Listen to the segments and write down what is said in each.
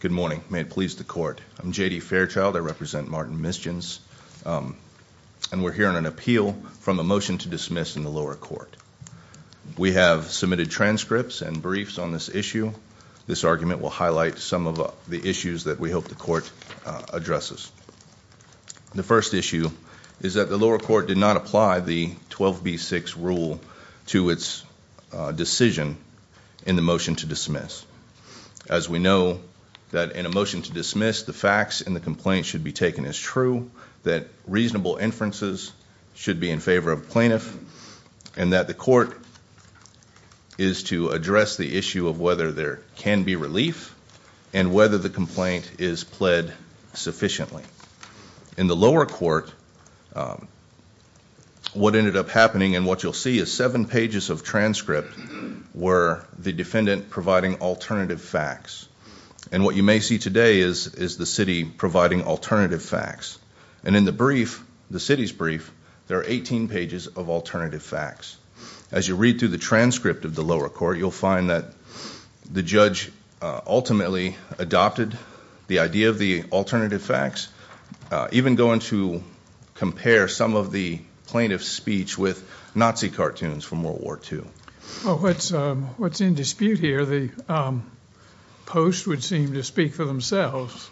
Good morning. May it please the court. I'm J.D. Fairchild. I represent Martin Misjuns and we're hearing an appeal from a motion to dismiss in the lower court. We have submitted transcripts and briefs on this issue. This argument will highlight some of the issues that we hope the court addresses. The first issue is that the lower court did not apply the 12b6 rule to its decision in the motion to dismiss. As we know that in a motion to dismiss the facts and the complaint should be taken as true, that reasonable inferences should be in favor of plaintiff, and that the court is to address the issue of whether there can be relief and whether the complaint is pled sufficiently. In the lower court what ended up happening and what you'll see is seven pages of transcript where the defendant providing alternative facts. And what you may see today is the city providing alternative facts. And in the brief, the city's brief, there are 18 pages of alternative facts. As you read through the transcript of the lower court you'll find that the judge ultimately adopted the idea of the alternative facts, even going to compare some of the plaintiff's speech with Nazi It's in dispute here. The post would seem to speak for themselves.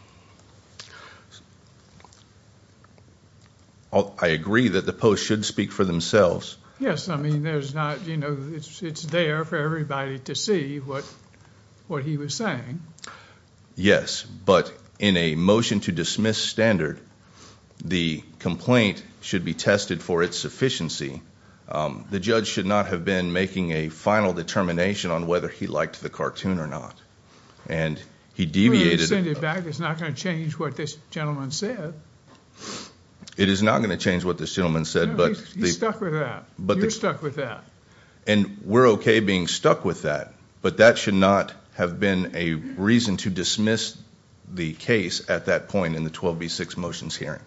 I agree that the post should speak for themselves. Yes, I mean, there's not, you know, it's there for everybody to see what what he was saying. Yes, but in a motion to dismiss standard, the complaint should be tested for its whether he liked the cartoon or not. And he deviated back it's not going to change what this gentleman said. It is not going to change what this gentleman said, but stuck with that. And we're okay being stuck with that, but that should not have been a reason to dismiss the case at that point in the 12b6 motions hearing.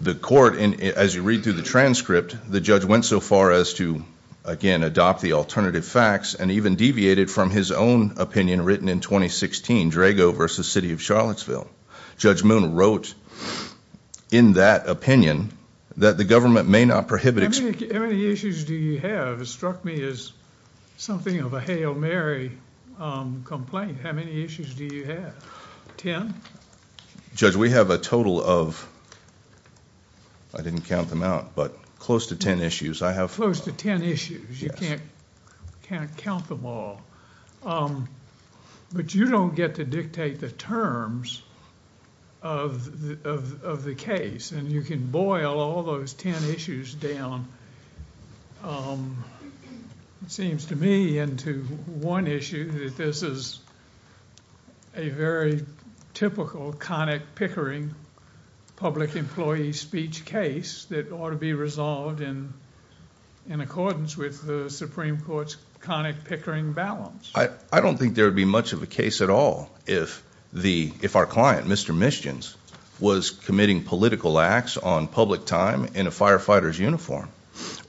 The court, and as you read through the transcript, the judge went so far as to, again, adopt the alternative facts and even deviated from his own opinion written in 2016, Drago v. City of Charlottesville. Judge Moon wrote in that opinion that the government may not prohibit it. How many issues do you have? It struck me as something of a Hail Mary complaint. How many issues do you have? Ten? Judge, we have a total of, I didn't count them out, but close to ten issues. Close to ten issues. You can't count them all. But you don't get to dictate the terms of the case, and you can boil all those ten issues down. It seems to me and to one issue that this is a very typical, conic, pickering public employee speech case that ought to be resolved in accordance with the Supreme Court's conic, pickering balance. I don't think there would be much of a case at all if our client, Mr. Mischens, was committing political acts on public time in a firefighter's uniform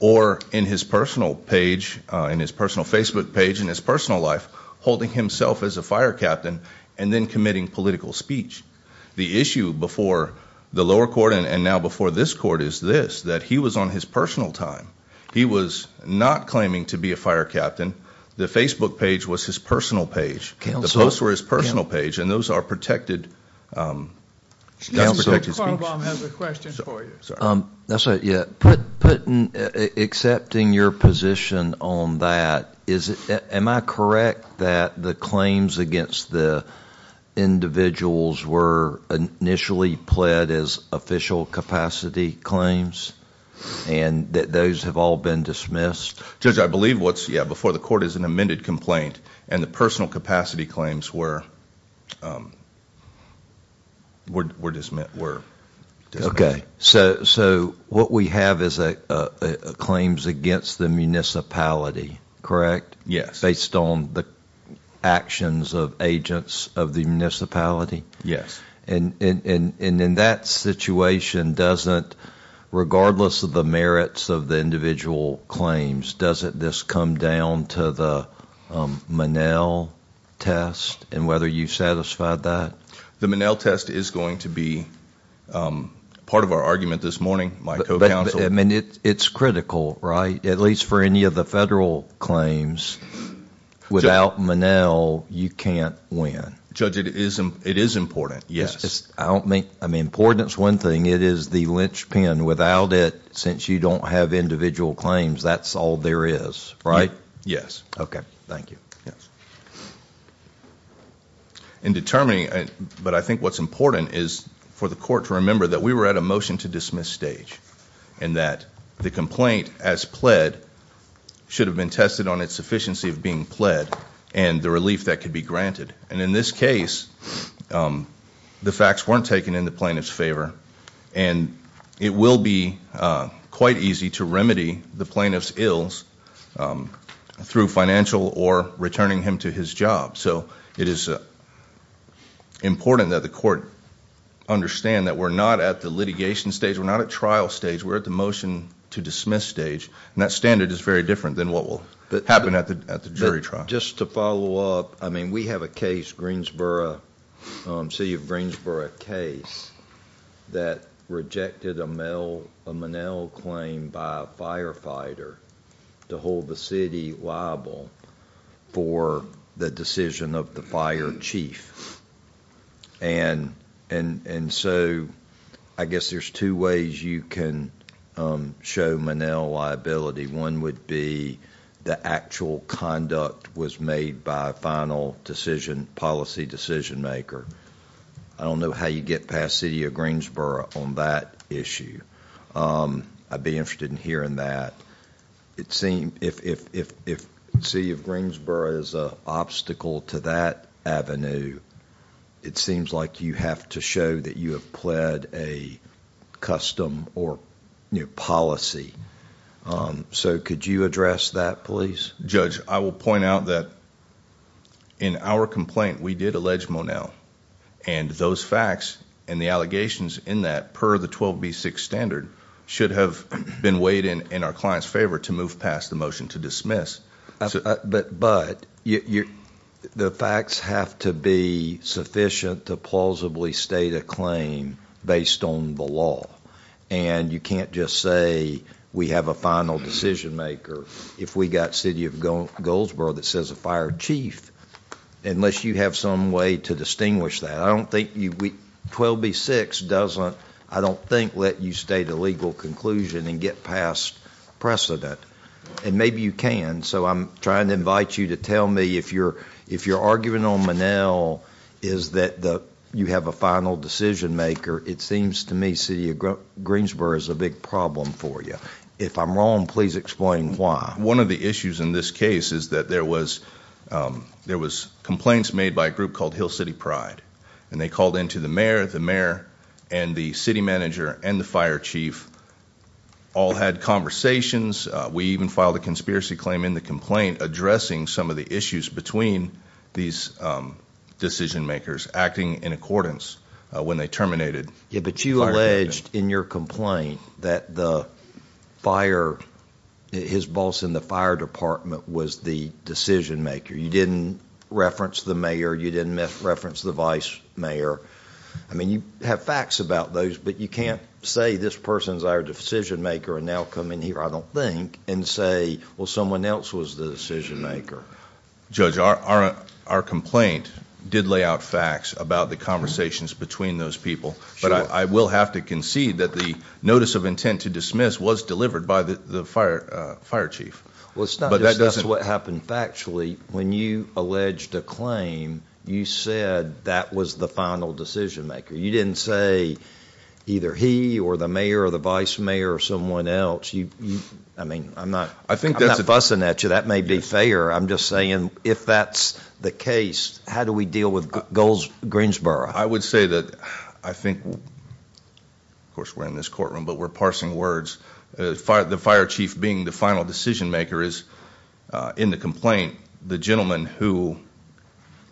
or in his personal page, in his personal Facebook page, in his personal life, holding himself as a fire captain and then committing political speech. The issue before the lower court and now before this court is this, that he was on his personal time. He was not claiming to be a fire captain. The Facebook page was his personal page. The posts were his personal page, and those are protected, not protected speech. Excuse me sir, Carl Blum has a question for you. Putting, accepting your position on that, is it, am I correct that the claims against the individuals were initially pled as official capacity claims and that those have all been dismissed? Judge, I believe what's, yeah, before the court is an amended complaint and the personal capacity claims were, were, were dismissed, were dismissed. Okay, so, so what we have is a claims against the municipality, correct? Yes. Based on the actions of agents of the municipality? And, and, and, and in that situation, doesn't, regardless of the merits of the individual claims, doesn't this come down to the Monell test and whether you satisfied that? The Monell test is going to be part of our argument this morning, my co-counsel. I mean, it's critical, right? At least for any of the federal claims, without Monell, you can't win. Judge, it is, it is important, yes. I don't mean, I mean, importance, one thing, it is the linchpin. Without it, since you don't have individual claims, that's all there is, right? Yes. Okay, thank you. In determining, but I think what's important is for the court to remember that we were at a motion-to-dismiss stage, and that the complaint, as pled, should have been tested on its sufficiency of being pled, and the relief that could be granted. And in this case, the facts weren't taken in the plaintiff's favor, and it will be quite easy to remedy the plaintiff's ills through financial or returning him to his job. So it is important that the court understand that we're not at the litigation stage, we're not at trial stage, we're at the motion-to-dismiss stage, and that standard is very different than what will happen at the jury trial. Just to follow up, I mean, we have a case, Greensboro, City of Greensboro case, that rejected a Monell claim by a firefighter to hold the city liable for the decision of the fire chief, and and so I guess there's two ways you can show Monell liability. One would be the actual conduct was made by a final decision policy decision-maker. I don't know how you get past City of Greensboro on that issue. I'd be interested in hearing that. It seemed, if City of Greensboro is an obstacle to that avenue, it seems like you have to show that you have pled a custom or new policy, so could you address that please? Judge, I will point out that in our complaint we did allege Monell, and those facts and the allegations in that, per the 12b6 standard, should have been weighed in in our client's favor to move past the motion to dismiss. But the facts have to be sufficient to plausibly state a claim based on the law, and you can't just say we have a final decision-maker if we got City of Goldsboro that says a fire chief, unless you have some way to distinguish that. I don't think 12b6 doesn't, I And maybe you can, so I'm trying to invite you to tell me if you're arguing on Monell is that you have a final decision-maker, it seems to me City of Greensboro is a big problem for you. If I'm wrong, please explain why. One of the issues in this case is that there was complaints made by a group called Hill City Pride, and they called in to the mayor, the mayor and the city manager and the fire chief, all had conversations, we even filed a conspiracy claim in the complaint addressing some of the issues between these decision-makers acting in accordance when they terminated. But you alleged in your complaint that the fire, his boss in the fire department was the decision-maker, you didn't reference the mayor, you didn't reference the vice mayor, I mean you have facts about those, but you can't say this person's our decision-maker and now come in here, I don't think, and say well someone else was the decision-maker. Judge, our complaint did lay out facts about the conversations between those people, but I will have to concede that the notice of intent to dismiss was delivered by the fire chief. Well it's not just what happened factually, when you alleged a claim you said that was the final decision-maker, you didn't say either he or the mayor or the vice mayor or someone else, I mean I'm not fussing at you, that may be fair, I'm just saying if that's the case, how do we deal with Golds Greensboro? I would say that I think, of course we're in this courtroom, but we're parsing words, the fire chief being the final decision-maker is in the complaint, the gentleman who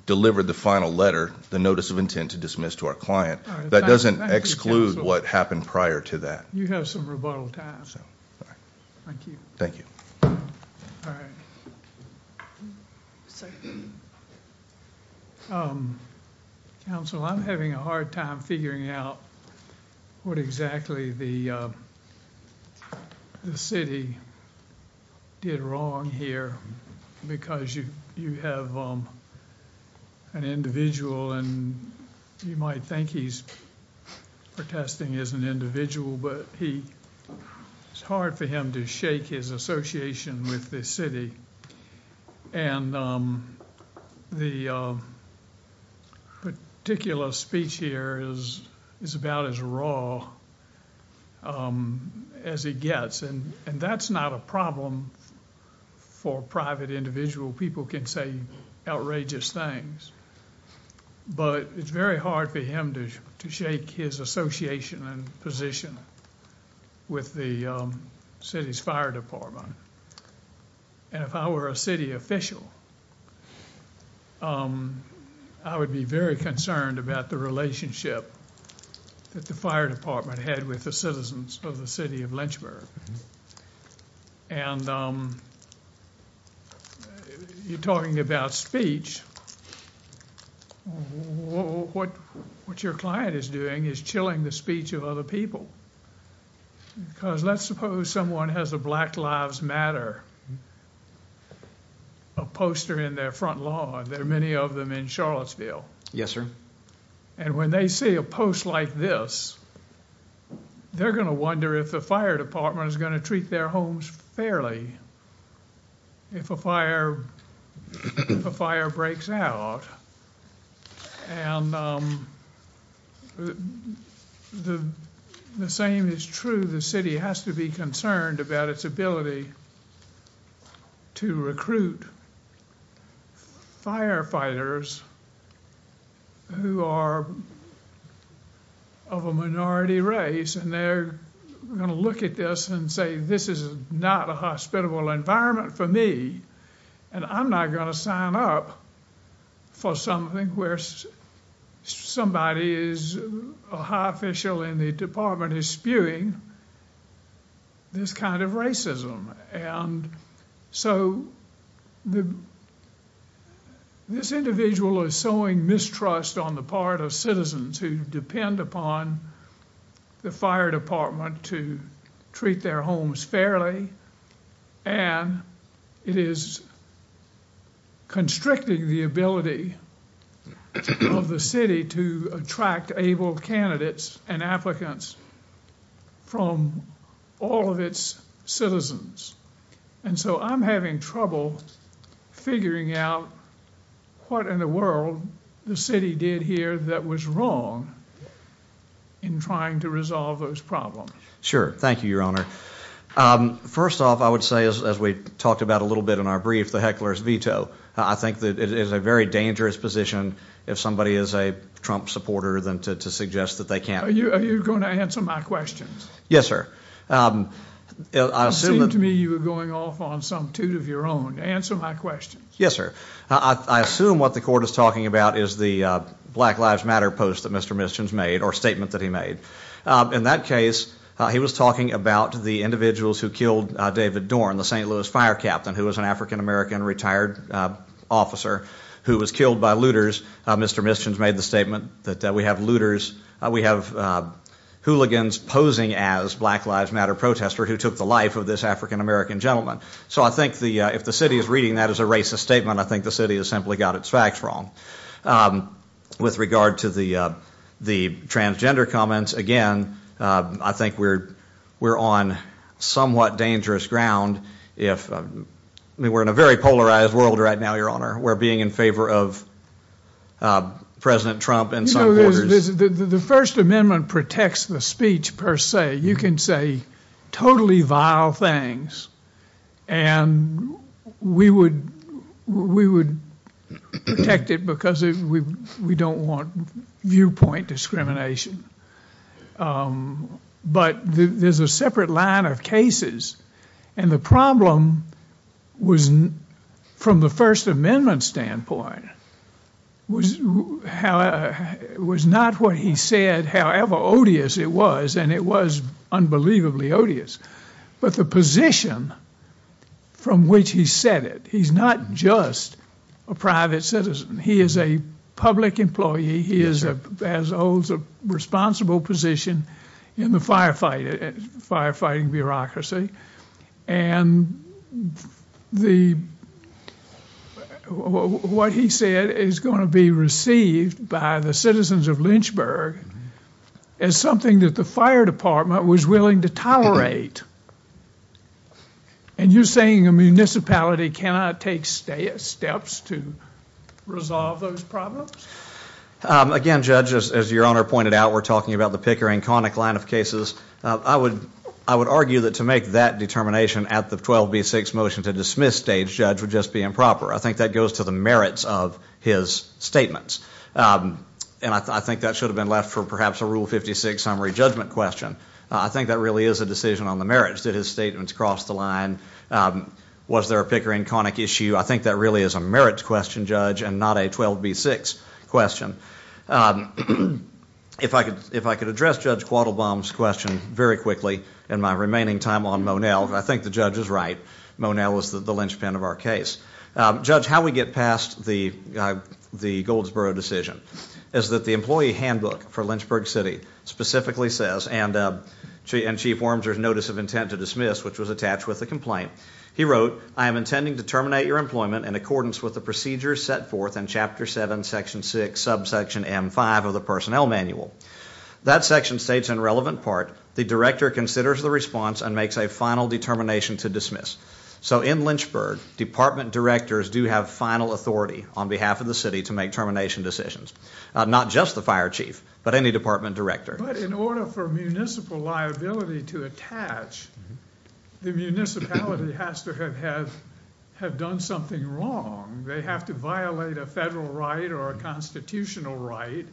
delivered the final letter, the notice of intent to dismiss to our client, that doesn't exclude what happened prior to that. You have some rebuttal time. Thank you. All right. Counsel, I'm having a hard time figuring out what exactly the city did wrong here because you have an individual and you might think he's protesting as an individual, but it's hard for him to shake his association with this city and the particular speech here is about as raw as he gets and that's not a problem for private individual, people can say outrageous things, but it's very hard for him to shake his association and position with the city's fire department and if I were a city official, I would be very concerned about the relationship that the fire department had with the citizens of the city of Pittsburgh and you're talking about speech, what your client is doing is chilling the speech of other people because let's suppose someone has a Black Lives Matter, a poster in their front lawn, there are many of them in Charlottesville and when they see a post like this, they're going to wonder if the fire department is going to treat their homes fairly if a fire breaks out and the same is true, the city has to be concerned about its ability to recruit firefighters who are of a minority race and they're going to look at this and say this is not a hospitable environment for me and I'm not going to sign up for something where somebody is a high official in the department is doing this kind of racism and so this individual is sowing mistrust on the part of citizens who depend upon the fire department to treat their homes fairly and it is constricting the ability of the city to attract able candidates and applicants from all of its citizens and so I'm having trouble figuring out what in the world the city did here that was wrong in trying to resolve those problems. Sure, thank you your honor. First off, I would say as we talked about a little bit in our brief, the heckler's veto. I think that it is a very dangerous position if somebody is a Trump supporter than to suggest that they can't. Are you going to answer my questions? Yes, sir. It seemed to me you were going off on some toot of your own. Answer my questions. Yes, sir. I assume what the court is talking about is the Black Lives Matter post that Mr. Mischens made or statement that he made. In that case, he was talking about the individuals who killed David Dorn, the St. Louis fire captain who was an African-American retired officer who was killed by looters. Mr. Mischens made the statement that we have looters, we have hooligans posing as Black Lives Matter protester who took the life of this African-American gentleman. So I think if the city is reading that as a racist statement, I think the city has simply got its facts wrong. With regard to the transgender comments, again, I think we're on somewhat dangerous ground. We're in a very polarized world right now, Your Honor. We're being in favor of President Trump and supporters. The First Amendment protects the speech per se. You can say totally vile things and we would protect it because we don't want viewpoint discrimination. But there's a separate line of cases and the problem was, from the First Amendment standpoint, was not what he said, however odious it was, and it was unbelievably odious, but the position from which he said it. He's not just a private citizen. He is a public employee. He holds a responsible position in the firefighting bureaucracy and what he said is going to be received by the citizens of as something that the fire department was willing to tolerate and you're saying a municipality cannot take steps to resolve those problems? Again, Judge, as Your Honor pointed out, we're talking about the Pickering-Connick line of cases. I would argue that to make that determination at the 12b6 motion to dismiss Stage Judge would just be improper. I think that goes to the merits of his statements and I think that should have been left for perhaps a Rule 56 summary judgment question. I think that really is a decision on the merits. Did his statements cross the line? Was there a Pickering-Connick issue? I think that really is a merits question, Judge, and not a 12b6 question. If I could address Judge Quattlebaum's question very quickly in my remaining time on Monell, I think the judge is right. Monell is the linchpin of our case. Judge, how we get past the Goldsboro decision is that the employee handbook for Lynchburg City specifically says, and Chief Wormser's notice of intent to dismiss, which was attached with the complaint, he wrote, I am intending to terminate your employment in accordance with the procedures set forth in Chapter 7, Section 6, Subsection M5 of the Personnel Manual. That section states in relevant part, the director considers the and makes a final determination to dismiss. So in Lynchburg, department directors do have final authority on behalf of the city to make termination decisions. Not just the fire chief, but any department director. But in order for municipal liability to attach, the municipality has to have done something wrong. They have to violate a federal right or a constitutional right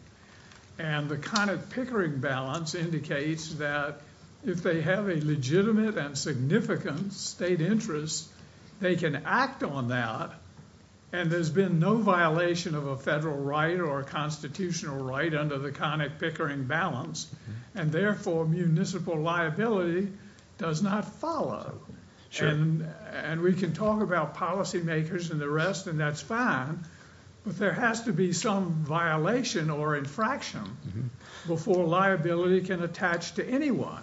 and the conic pickering balance indicates that if they have a legitimate and significant state interest, they can act on that and there's been no violation of a federal right or a constitutional right under the conic pickering balance, and therefore municipal liability does not follow. And we can talk about policymakers and the rest and that's fine, but there has to be some violation or infraction before liability can attach to anyone.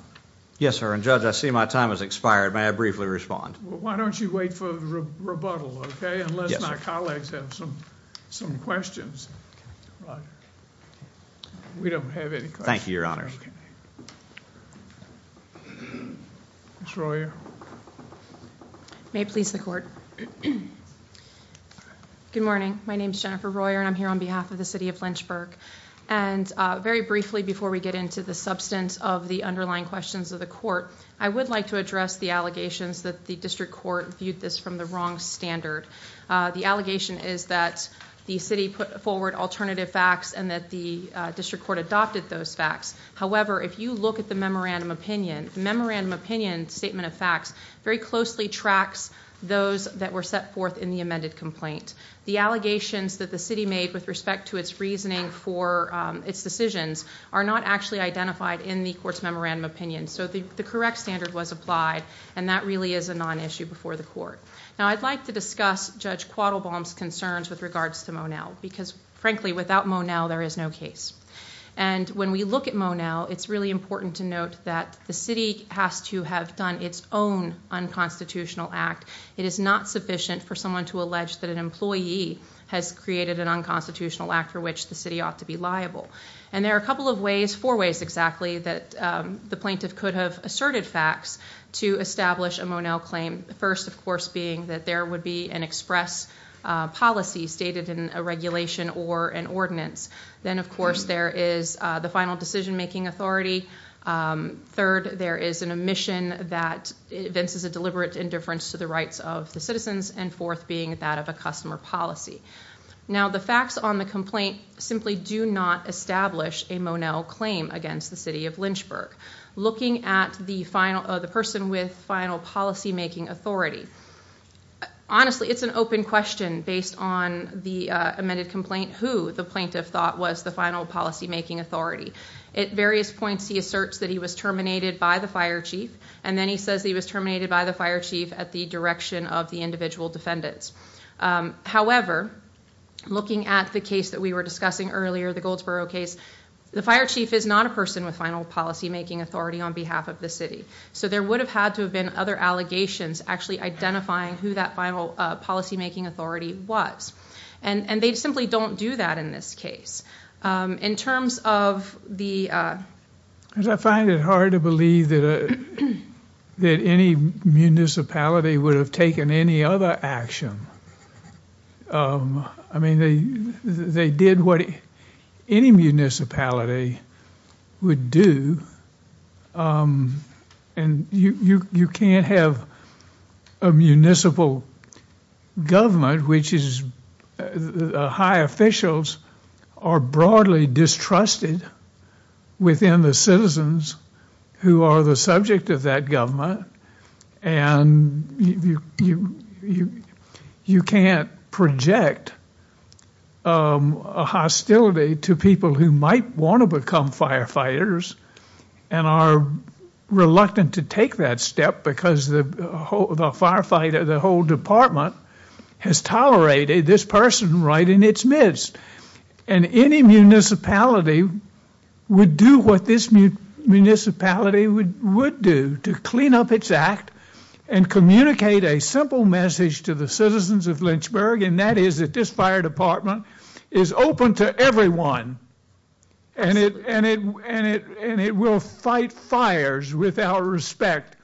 Yes, sir. And judge, I see my time has expired. May I briefly respond? Why don't you wait for rebuttal? Okay. Unless my colleagues have some some questions. We don't have any. Thank you, Your Honor. Troy may please the court. Mhm. Good morning. My name is Jennifer Royer and I'm here on behalf of the city of Lynchburg and very briefly before we get into the substance of the underlying questions of the court, I would like to address the allegations that the district court viewed this from the wrong standard. The allegation is that the city put forward alternative facts and that the district court adopted those facts. However, if you look at the memorandum opinion, memorandum opinion statement of facts very closely tracks those that were set forth in the amended complaint. The allegations that the city made with respect to its reasoning for its decisions are not actually identified in the court's memorandum opinion. So the correct standard was applied, and that really is a non issue before the court. Now, I'd like to discuss Judge Quattle bombs concerns with regards to Monell because, frankly, without Monell, there is no case. And when we look at Monell, it's really important to note that the city has to have done its own unconstitutional act. It is not sufficient for someone to allege that an employee has created an unconstitutional act for which the city ought to be liable. And there are a couple of ways, four ways exactly that the plaintiff could have asserted facts to establish a Monell claim. First, of course, being that there would be an express policy stated in a regulation or an ordinance. Then, of course, there is the final decision making authority. Um, third, there is an omission that events is a deliberate indifference to the rights of the citizens and fourth being that of a customer policy. Now, the facts on the complaint simply do not establish a Monell claim against the city of Lynchburg. Looking at the final of the person with final policy making authority. Honestly, it's an open question based on the amended complaint who the plaintiff thought was the final policy making authority. At various points, he asserts that he was terminated by the fire chief and then he says he was terminated by the fire chief at the direction of the individual defendants. However, looking at the case that we were discussing earlier, the Goldsboro case, the fire chief is not a person with final policy making authority on behalf of the city. So there would have had to have been other allegations actually identifying who that final policy making authority was, and they simply don't do that in this case. Um, in terms of the, uh, I find it hard to believe that, uh, that any municipality would have taken any other action. Um, I mean, they, they did what any municipality would do. Um, and you, you, you can't have a municipal government, which is high officials are broadly distrusted within the citizens who are the subject of that government. And you, you, you, you can't project, um, a hostility to people who might want to become firefighters and are reluctant to take that step because the whole, the firefighter, the whole department has tolerated this person right in its midst. And any municipality would do what this municipality would, would do to clean up its act and communicate a simple message to the citizens of Lynchburg. And that is that this fire department is open to everyone. And it, and it, and it, and it will fight fires without respect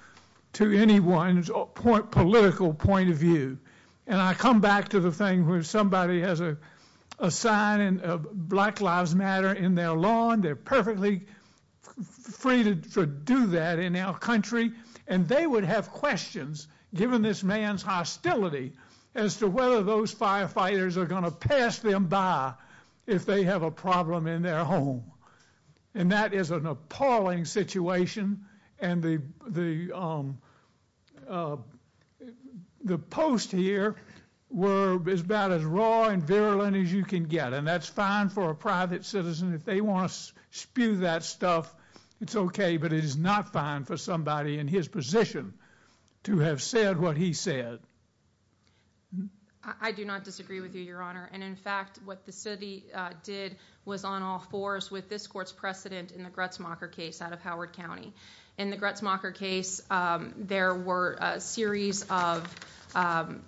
to anyone's political point of view. And I come back to the thing where somebody has a sign and black lives matter in their lawn. They're perfectly free to do that in our country. And they would have questions given this man's hostility as to whether those firefighters are going to pass them by if they have a problem in their home. And that is an appalling situation. And the, um, uh, the post here were as bad as raw and virulent as you can get. And that's fine for a private citizen. If they want to spew that stuff, it's okay. But it is not fine for somebody in his position to have said what he said. I do not disagree with you, Your Honor. And in fact, what the city did was on all fours with this court's precedent in the Gretzmacher case out of Howard County. In the Gretzmacher case, there were a series of, um,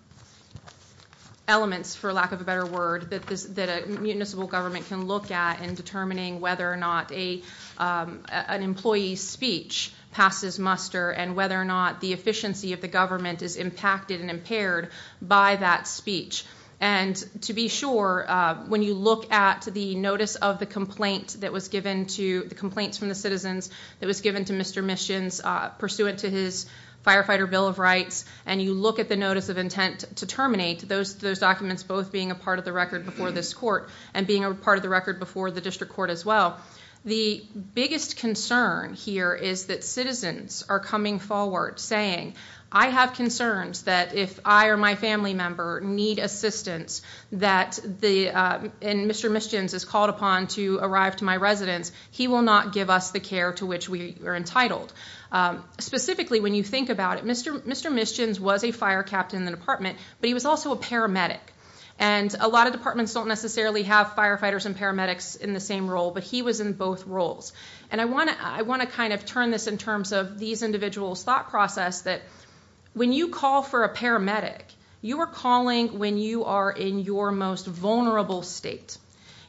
elements, for lack of a better word, that this that a municipal government can look at in determining whether or not a, um, an employee speech passes muster and whether or not the efficiency of the government is impacted and impaired by that speech. And to be sure, when you look at the notice of the complaint that was given to the complaints from the citizens that was given to Mr Missions pursuant to his firefighter Bill of Rights, and you look at the notice of intent to terminate those those documents, both being a part of the record before this court and being a part of the record before the district court as well. The biggest concern here is that citizens are coming forward saying I have concerns that if I or my family member need assistance that the Mr Missions is called upon to arrive to my residence, he will not give us the care to which we are entitled. Um, specifically, when you think about it, Mr Mr Missions was a fire captain in the department, but he was also a paramedic. And a lot of departments don't necessarily have firefighters and paramedics in the same role, but he was in both roles. And I want to I want to kind of turn this in terms of these individuals thought process that when you call for a paramedic, you are calling when you are in your most vulnerable state,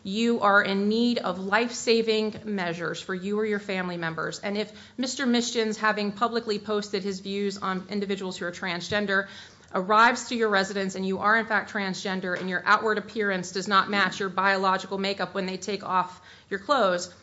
you are in need of life saving measures for you or your family members. And if Mr Missions, having publicly posted his views on individuals who are transgender arrives to your residence and you are in fact transgender and your outward appearance does not match your biological makeup when they take off your clothes,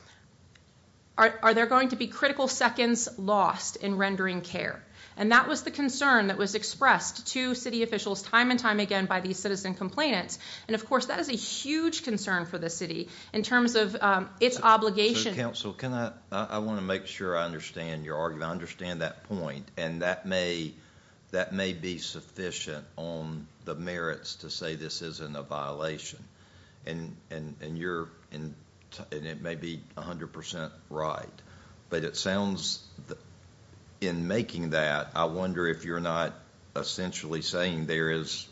are there going to be critical seconds lost in rendering care? And that was the concern that was expressed to city officials time and time again by these citizen complainants. And of course, that is a huge concern for the city in terms of its obligation. So can I I want to make sure I understand your understand that point and that may that may be sufficient on the merits to say this isn't a violation and and and you're in and it may be 100% right. But it sounds in making that I wonder if you're not essentially saying there is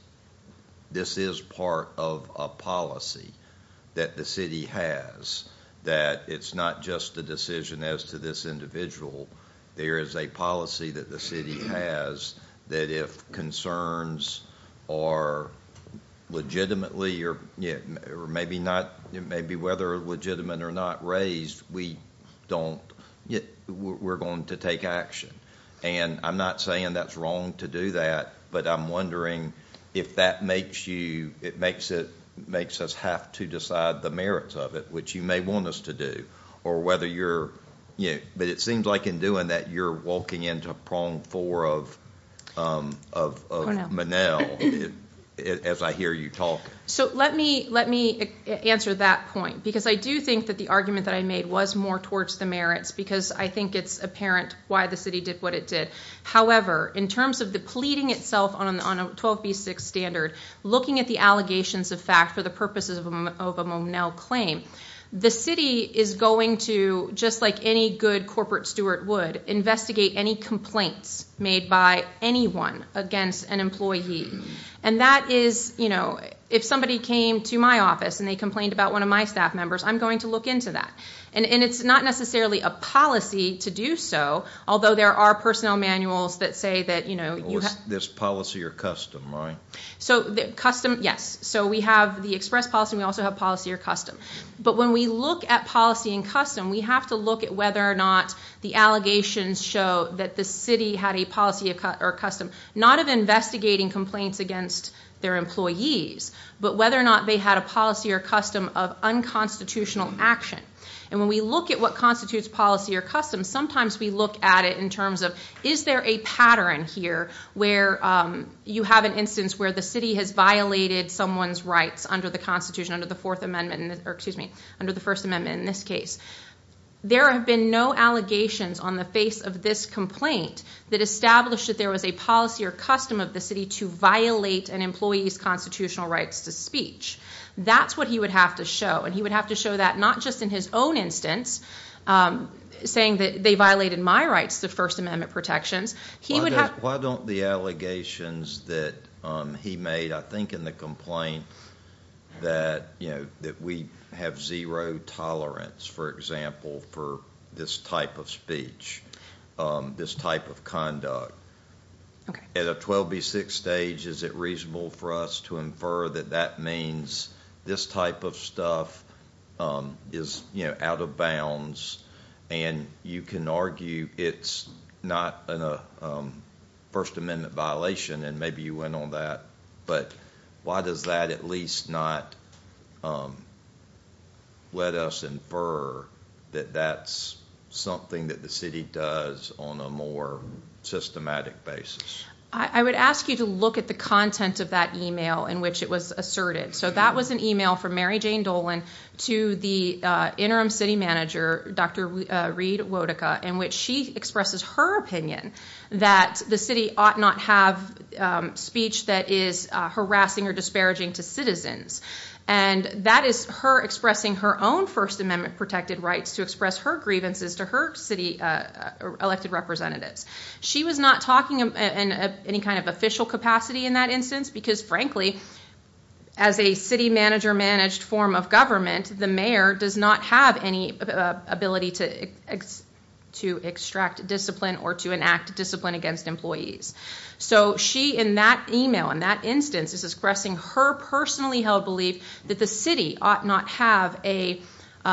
this is part of a policy that the city has that it's not just a decision as to this individual. There is a policy that the city has that if concerns are legitimately or maybe not, maybe whether legitimate or not raised, we don't, we're going to take action. And I'm not saying that's wrong to do that. But I'm wondering if that makes you, it makes it makes us have to decide the merits of it, which you may want us to do, or whether you're, you know, but it seems like in doing that you're walking into prong four of of Manel as I hear you talk. So let me let me answer that point, because I do think that the argument that I made was more towards the merits, because I think it's apparent why the city did what it did. However, in terms of the pleading itself on on a 12 v six standard, looking at the allegations of fact for the purposes of a Monel claim, the city is going to, just like any good corporate steward would investigate any complaints made by anyone against an employee. And that is, you know, if somebody came to my office and they complained about one of my staff members, I'm going to look into that. And it's not necessarily a policy to do so, although there are personnel manuals that say that, you know, this policy or custom, right? So custom? Yes. So we have the express policy. We also have policy or custom. But when we look at policy and custom, we have to look at whether or not the allegations show that the city had a policy or custom, not of investigating complaints against their employees, but whether or not they had a policy or custom of unconstitutional action. And when we look at what constitutes policy or custom, sometimes we look at it in terms Is there a pattern here where you have an instance where the city has violated someone's rights under the Constitution, under the Fourth Amendment, or excuse me, under the First Amendment. In this case, there have been no allegations on the face of this complaint that established that there was a policy or custom of the city to violate an employee's constitutional rights to speech. That's what he would have to show. And he would have to show that not just in his own instance, um, saying that they violated my rights. The First Amendment protections he would have. Why don't the allegations that he made? I think in the complaint that you know that we have zero tolerance, for example, for this type of speech, this type of conduct at a 12 B six stage. Is it reasonable for us to infer that that means this type of stuff, um, is, you can argue it's not a, um, First Amendment violation. And maybe you went on that. But why does that at least not, um, let us infer that that's something that the city does on a more systematic basis. I would ask you to look at the content of that email in which it was asserted. So that was an email from Mary Jane Dolan to the interim city manager, Dr Reed Wodica, in which she expresses her opinion that the city ought not have speech that is harassing or disparaging to citizens. And that is her expressing her own First Amendment protected rights to express her grievances to her city elected representatives. She was not talking about any kind of official capacity in that instance, because, frankly, as a manager managed form of government, the mayor does not have any ability to to extract discipline or to enact discipline against employees. So she in that email in that instance is expressing her personally held belief that the city ought not have a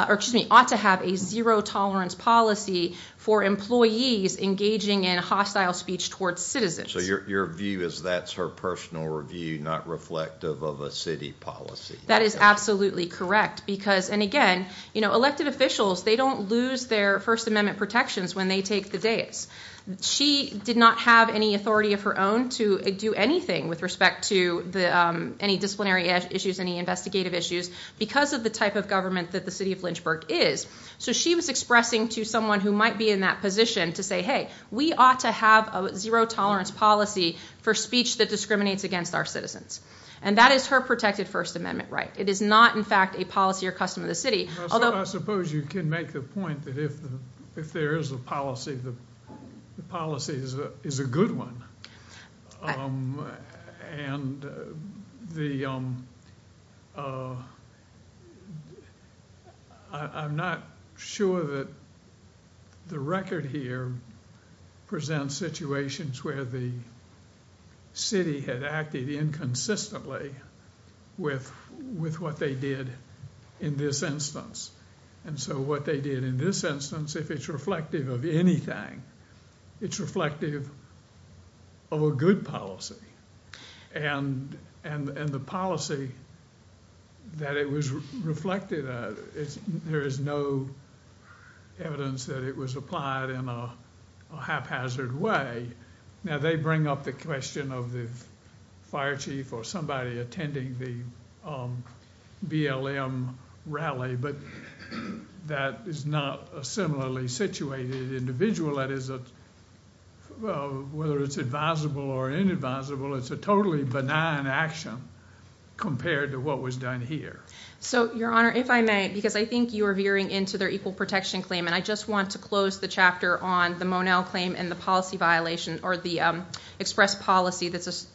or excuse me, ought to have a zero tolerance policy for employees engaging in hostile speech towards citizens. So your view is that's her personal review, not reflective of a city policy. That is absolutely correct, because and again, you know, elected officials, they don't lose their First Amendment protections when they take the days she did not have any authority of her own to do anything with respect to the any disciplinary issues, any investigative issues because of the type of government that the city of Lynchburg is. So she was expressing to someone who might be in that position to say, Hey, we ought to have a zero tolerance policy for speech that discriminates against our citizens. And that is her protected First Amendment, right? It is not, in fact, a policy or custom of the city. Although I suppose you can make the point that if if there is a policy, the policy is a good one. And the I'm not sure that the record here presents situations where the city had acted inconsistently with what they did in this instance. And so what they did in this instance, if it's reflective of anything, it's reflective of a good policy and the policy that it was reflected, there is no evidence that it was applied in a haphazard way. Now they bring up the question of the fire chief or somebody attending the BLM rally. But that is not a similarly situated individual. That is a whether it's advisable or inadvisable. It's a totally benign action compared to what was done here. So, Your Honor, if I may, because I think you're veering into their equal protection claim, and I just want to close the chapter on the Monell claim and the policy violation or the express policy that's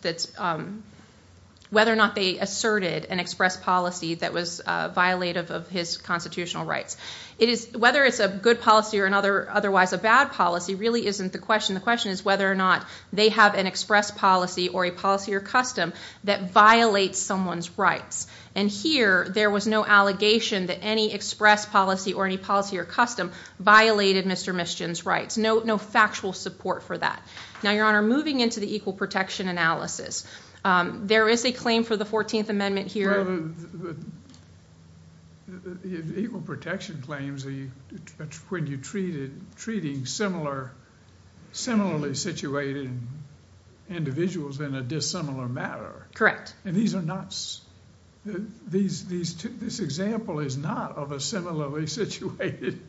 whether or not they asserted an express policy that was violative of his constitutional rights. Whether it's a good policy or otherwise a bad policy really isn't the question. The question is whether or not they have an express policy or a policy or custom that violates someone's rights. And here there was no allegation that any express policy or any policy or custom violated Mr. Mischin's rights. No factual support for that. Now, Your Honor, moving into the equal protection analysis, there is a claim for the 14th Amendment here. Equal protection claims, when you treat it, treating similarly situated individuals in a dissimilar matter. Correct. And these are not, this example is not of a similarly situated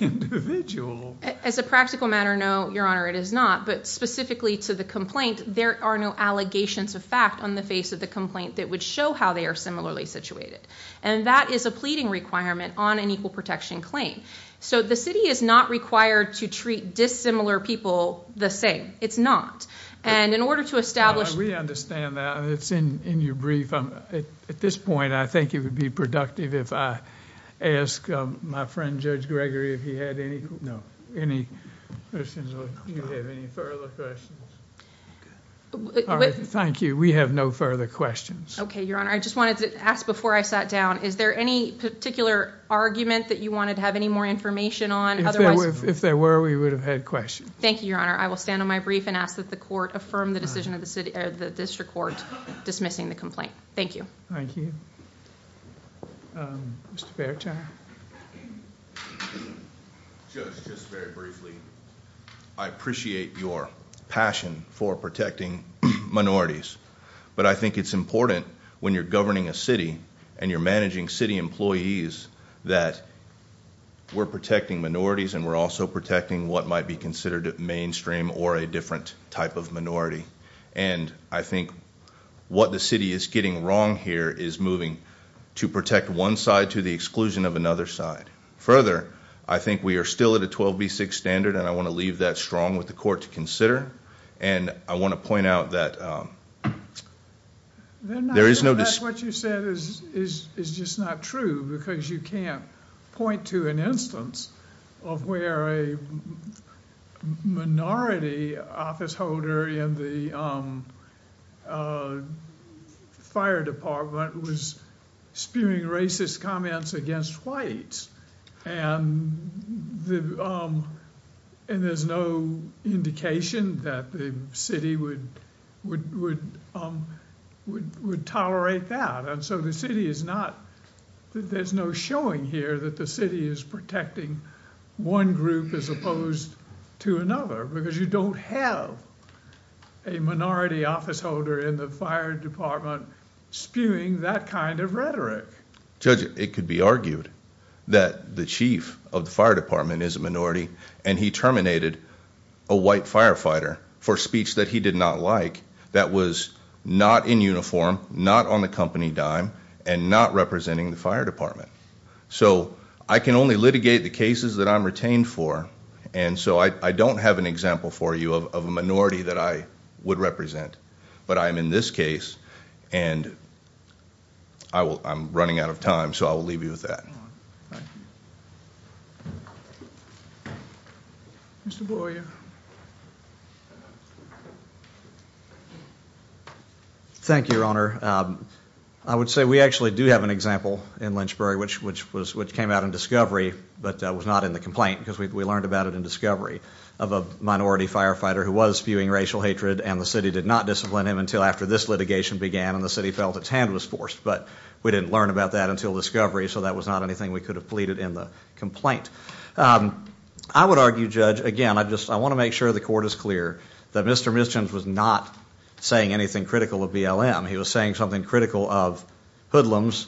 individual. As a practical matter, no, Your Honor, it is not. But specifically to the complaint, there are no allegations of fact on the face of the complaint that would show how they are similarly situated. And that is a pleading requirement on an equal protection claim. So the city is not required to treat dissimilar people the same. It's not. And in order to establish We understand that it's in your brief. At this point, I think it would be productive if I ask my friend, Judge Gregory, if he had any, no, any you have any further questions? Thank you. We have no further questions. Okay, Your Honor, I just wanted to ask before I sat down. Is there any particular argument that you wanted to have any more information on? Otherwise, if there were, we would have had questions. Thank you, Your Honor. I will stand on my brief and ask that the court affirm the decision of the city or the district court dismissing the complaint. Thank you. Thank you. Um, Mr Fair time. Just just very briefly. I appreciate your passion for protecting minorities, but I think it's important when you're governing a city and you're managing city employees that we're protecting minorities and we're also protecting what might be considered mainstream or a different type of minority. And I think what the city is getting wrong here is moving to protect one side to the exclusion of another side. Further, I think we are still at a 12 B six standard, and I want to leave that strong with the court to consider. And I want to point out that, um, there is no, that's what you said is just not true because you can't point to an instance of where a minority office holder in the, um, uh, fire department was spewing racist comments against white and the, um, and there's no indication that the city would would would, um, would tolerate that. And so the city is not, there's no showing here that the city is protecting one group as opposed to another because you don't have a minority office holder in the fire department spewing that kind of rhetoric. Judge, it could be argued that the chief of the fire department is a minority and he terminated a white firefighter for speech that he did not like. That was not in uniform, not on company dime and not representing the fire department. So I can only litigate the cases that I'm retained for. And so I don't have an example for you of a minority that I would represent. But I'm in this case and I will, I'm running out of time. So I will leave you with that. Mr Boyer. Thank you, Your Honor. Um, I would say we actually do have an example in Lynchbury, which, which was, which came out in discovery but was not in the complaint because we learned about it in discovery of a minority firefighter who was spewing racial hatred and the city did not discipline him until after this litigation began and the city felt its hand was forced. But we didn't learn about that until discovery. So that was not anything we could have pleaded in complaint. Um, I would argue judge again, I just, I want to make sure the court is clear that Mr missions was not saying anything critical of BLM. He was saying something critical of hoodlums,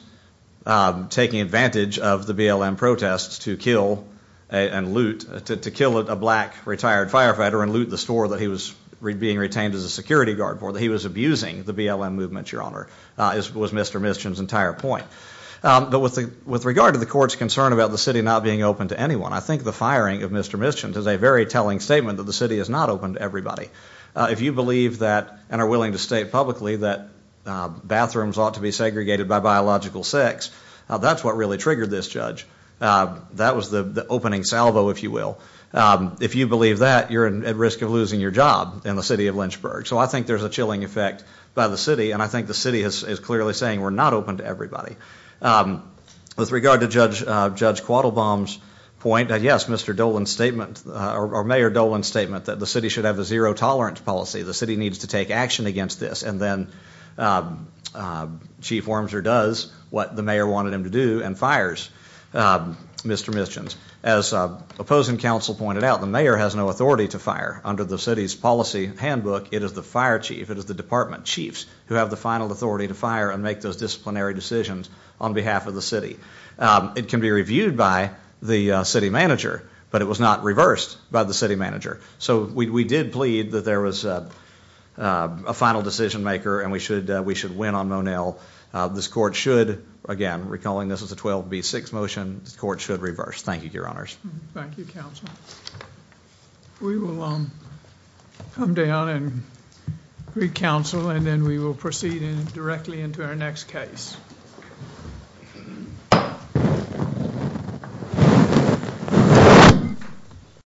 um, taking advantage of the BLM protests to kill and loot to kill a black retired firefighter and loot the store that he was being retained as a security guard for that he was abusing the BLM movement. Your Honor, uh, was Mr missions entire point. Um, but with with regard to the court's concern about the city not being open to anyone, I think the firing of Mr missions is a very telling statement that the city is not open to everybody. If you believe that and are willing to state publicly that bathrooms ought to be segregated by biological sex, that's what really triggered this judge. Uh, that was the opening salvo, if you will. Um, if you believe that you're at risk of losing your job in the city of Lynchburg. So I think there's a chilling effect by the city and I think the city is clearly saying we're not open to everybody. Um, with regard to Judge Judge Quattle bombs point that yes, Mr Dolan statement or Mayor Dolan statement that the city should have a zero tolerance policy. The city needs to take action against this. And then, uh, uh, Chief Wormser does what the mayor wanted him to do and fires, uh, Mr missions. As opposing counsel pointed out, the mayor has no authority to fire under the city's policy handbook. It is the fire chief. It is the department chiefs who have the final authority to fire and make those disciplinary decisions on behalf of the city. Um, it can be reviewed by the city manager, but it was not reversed by the city manager. So we did plead that there was, uh, uh, a final decision maker and we should, we should win on Monell. This court should again recalling this is a 12 B six motion. This court should reverse. Thank you, Your Honors. Thank you, Counsel. We will, um, come down and recounsel and then we will proceed in directly into our next case.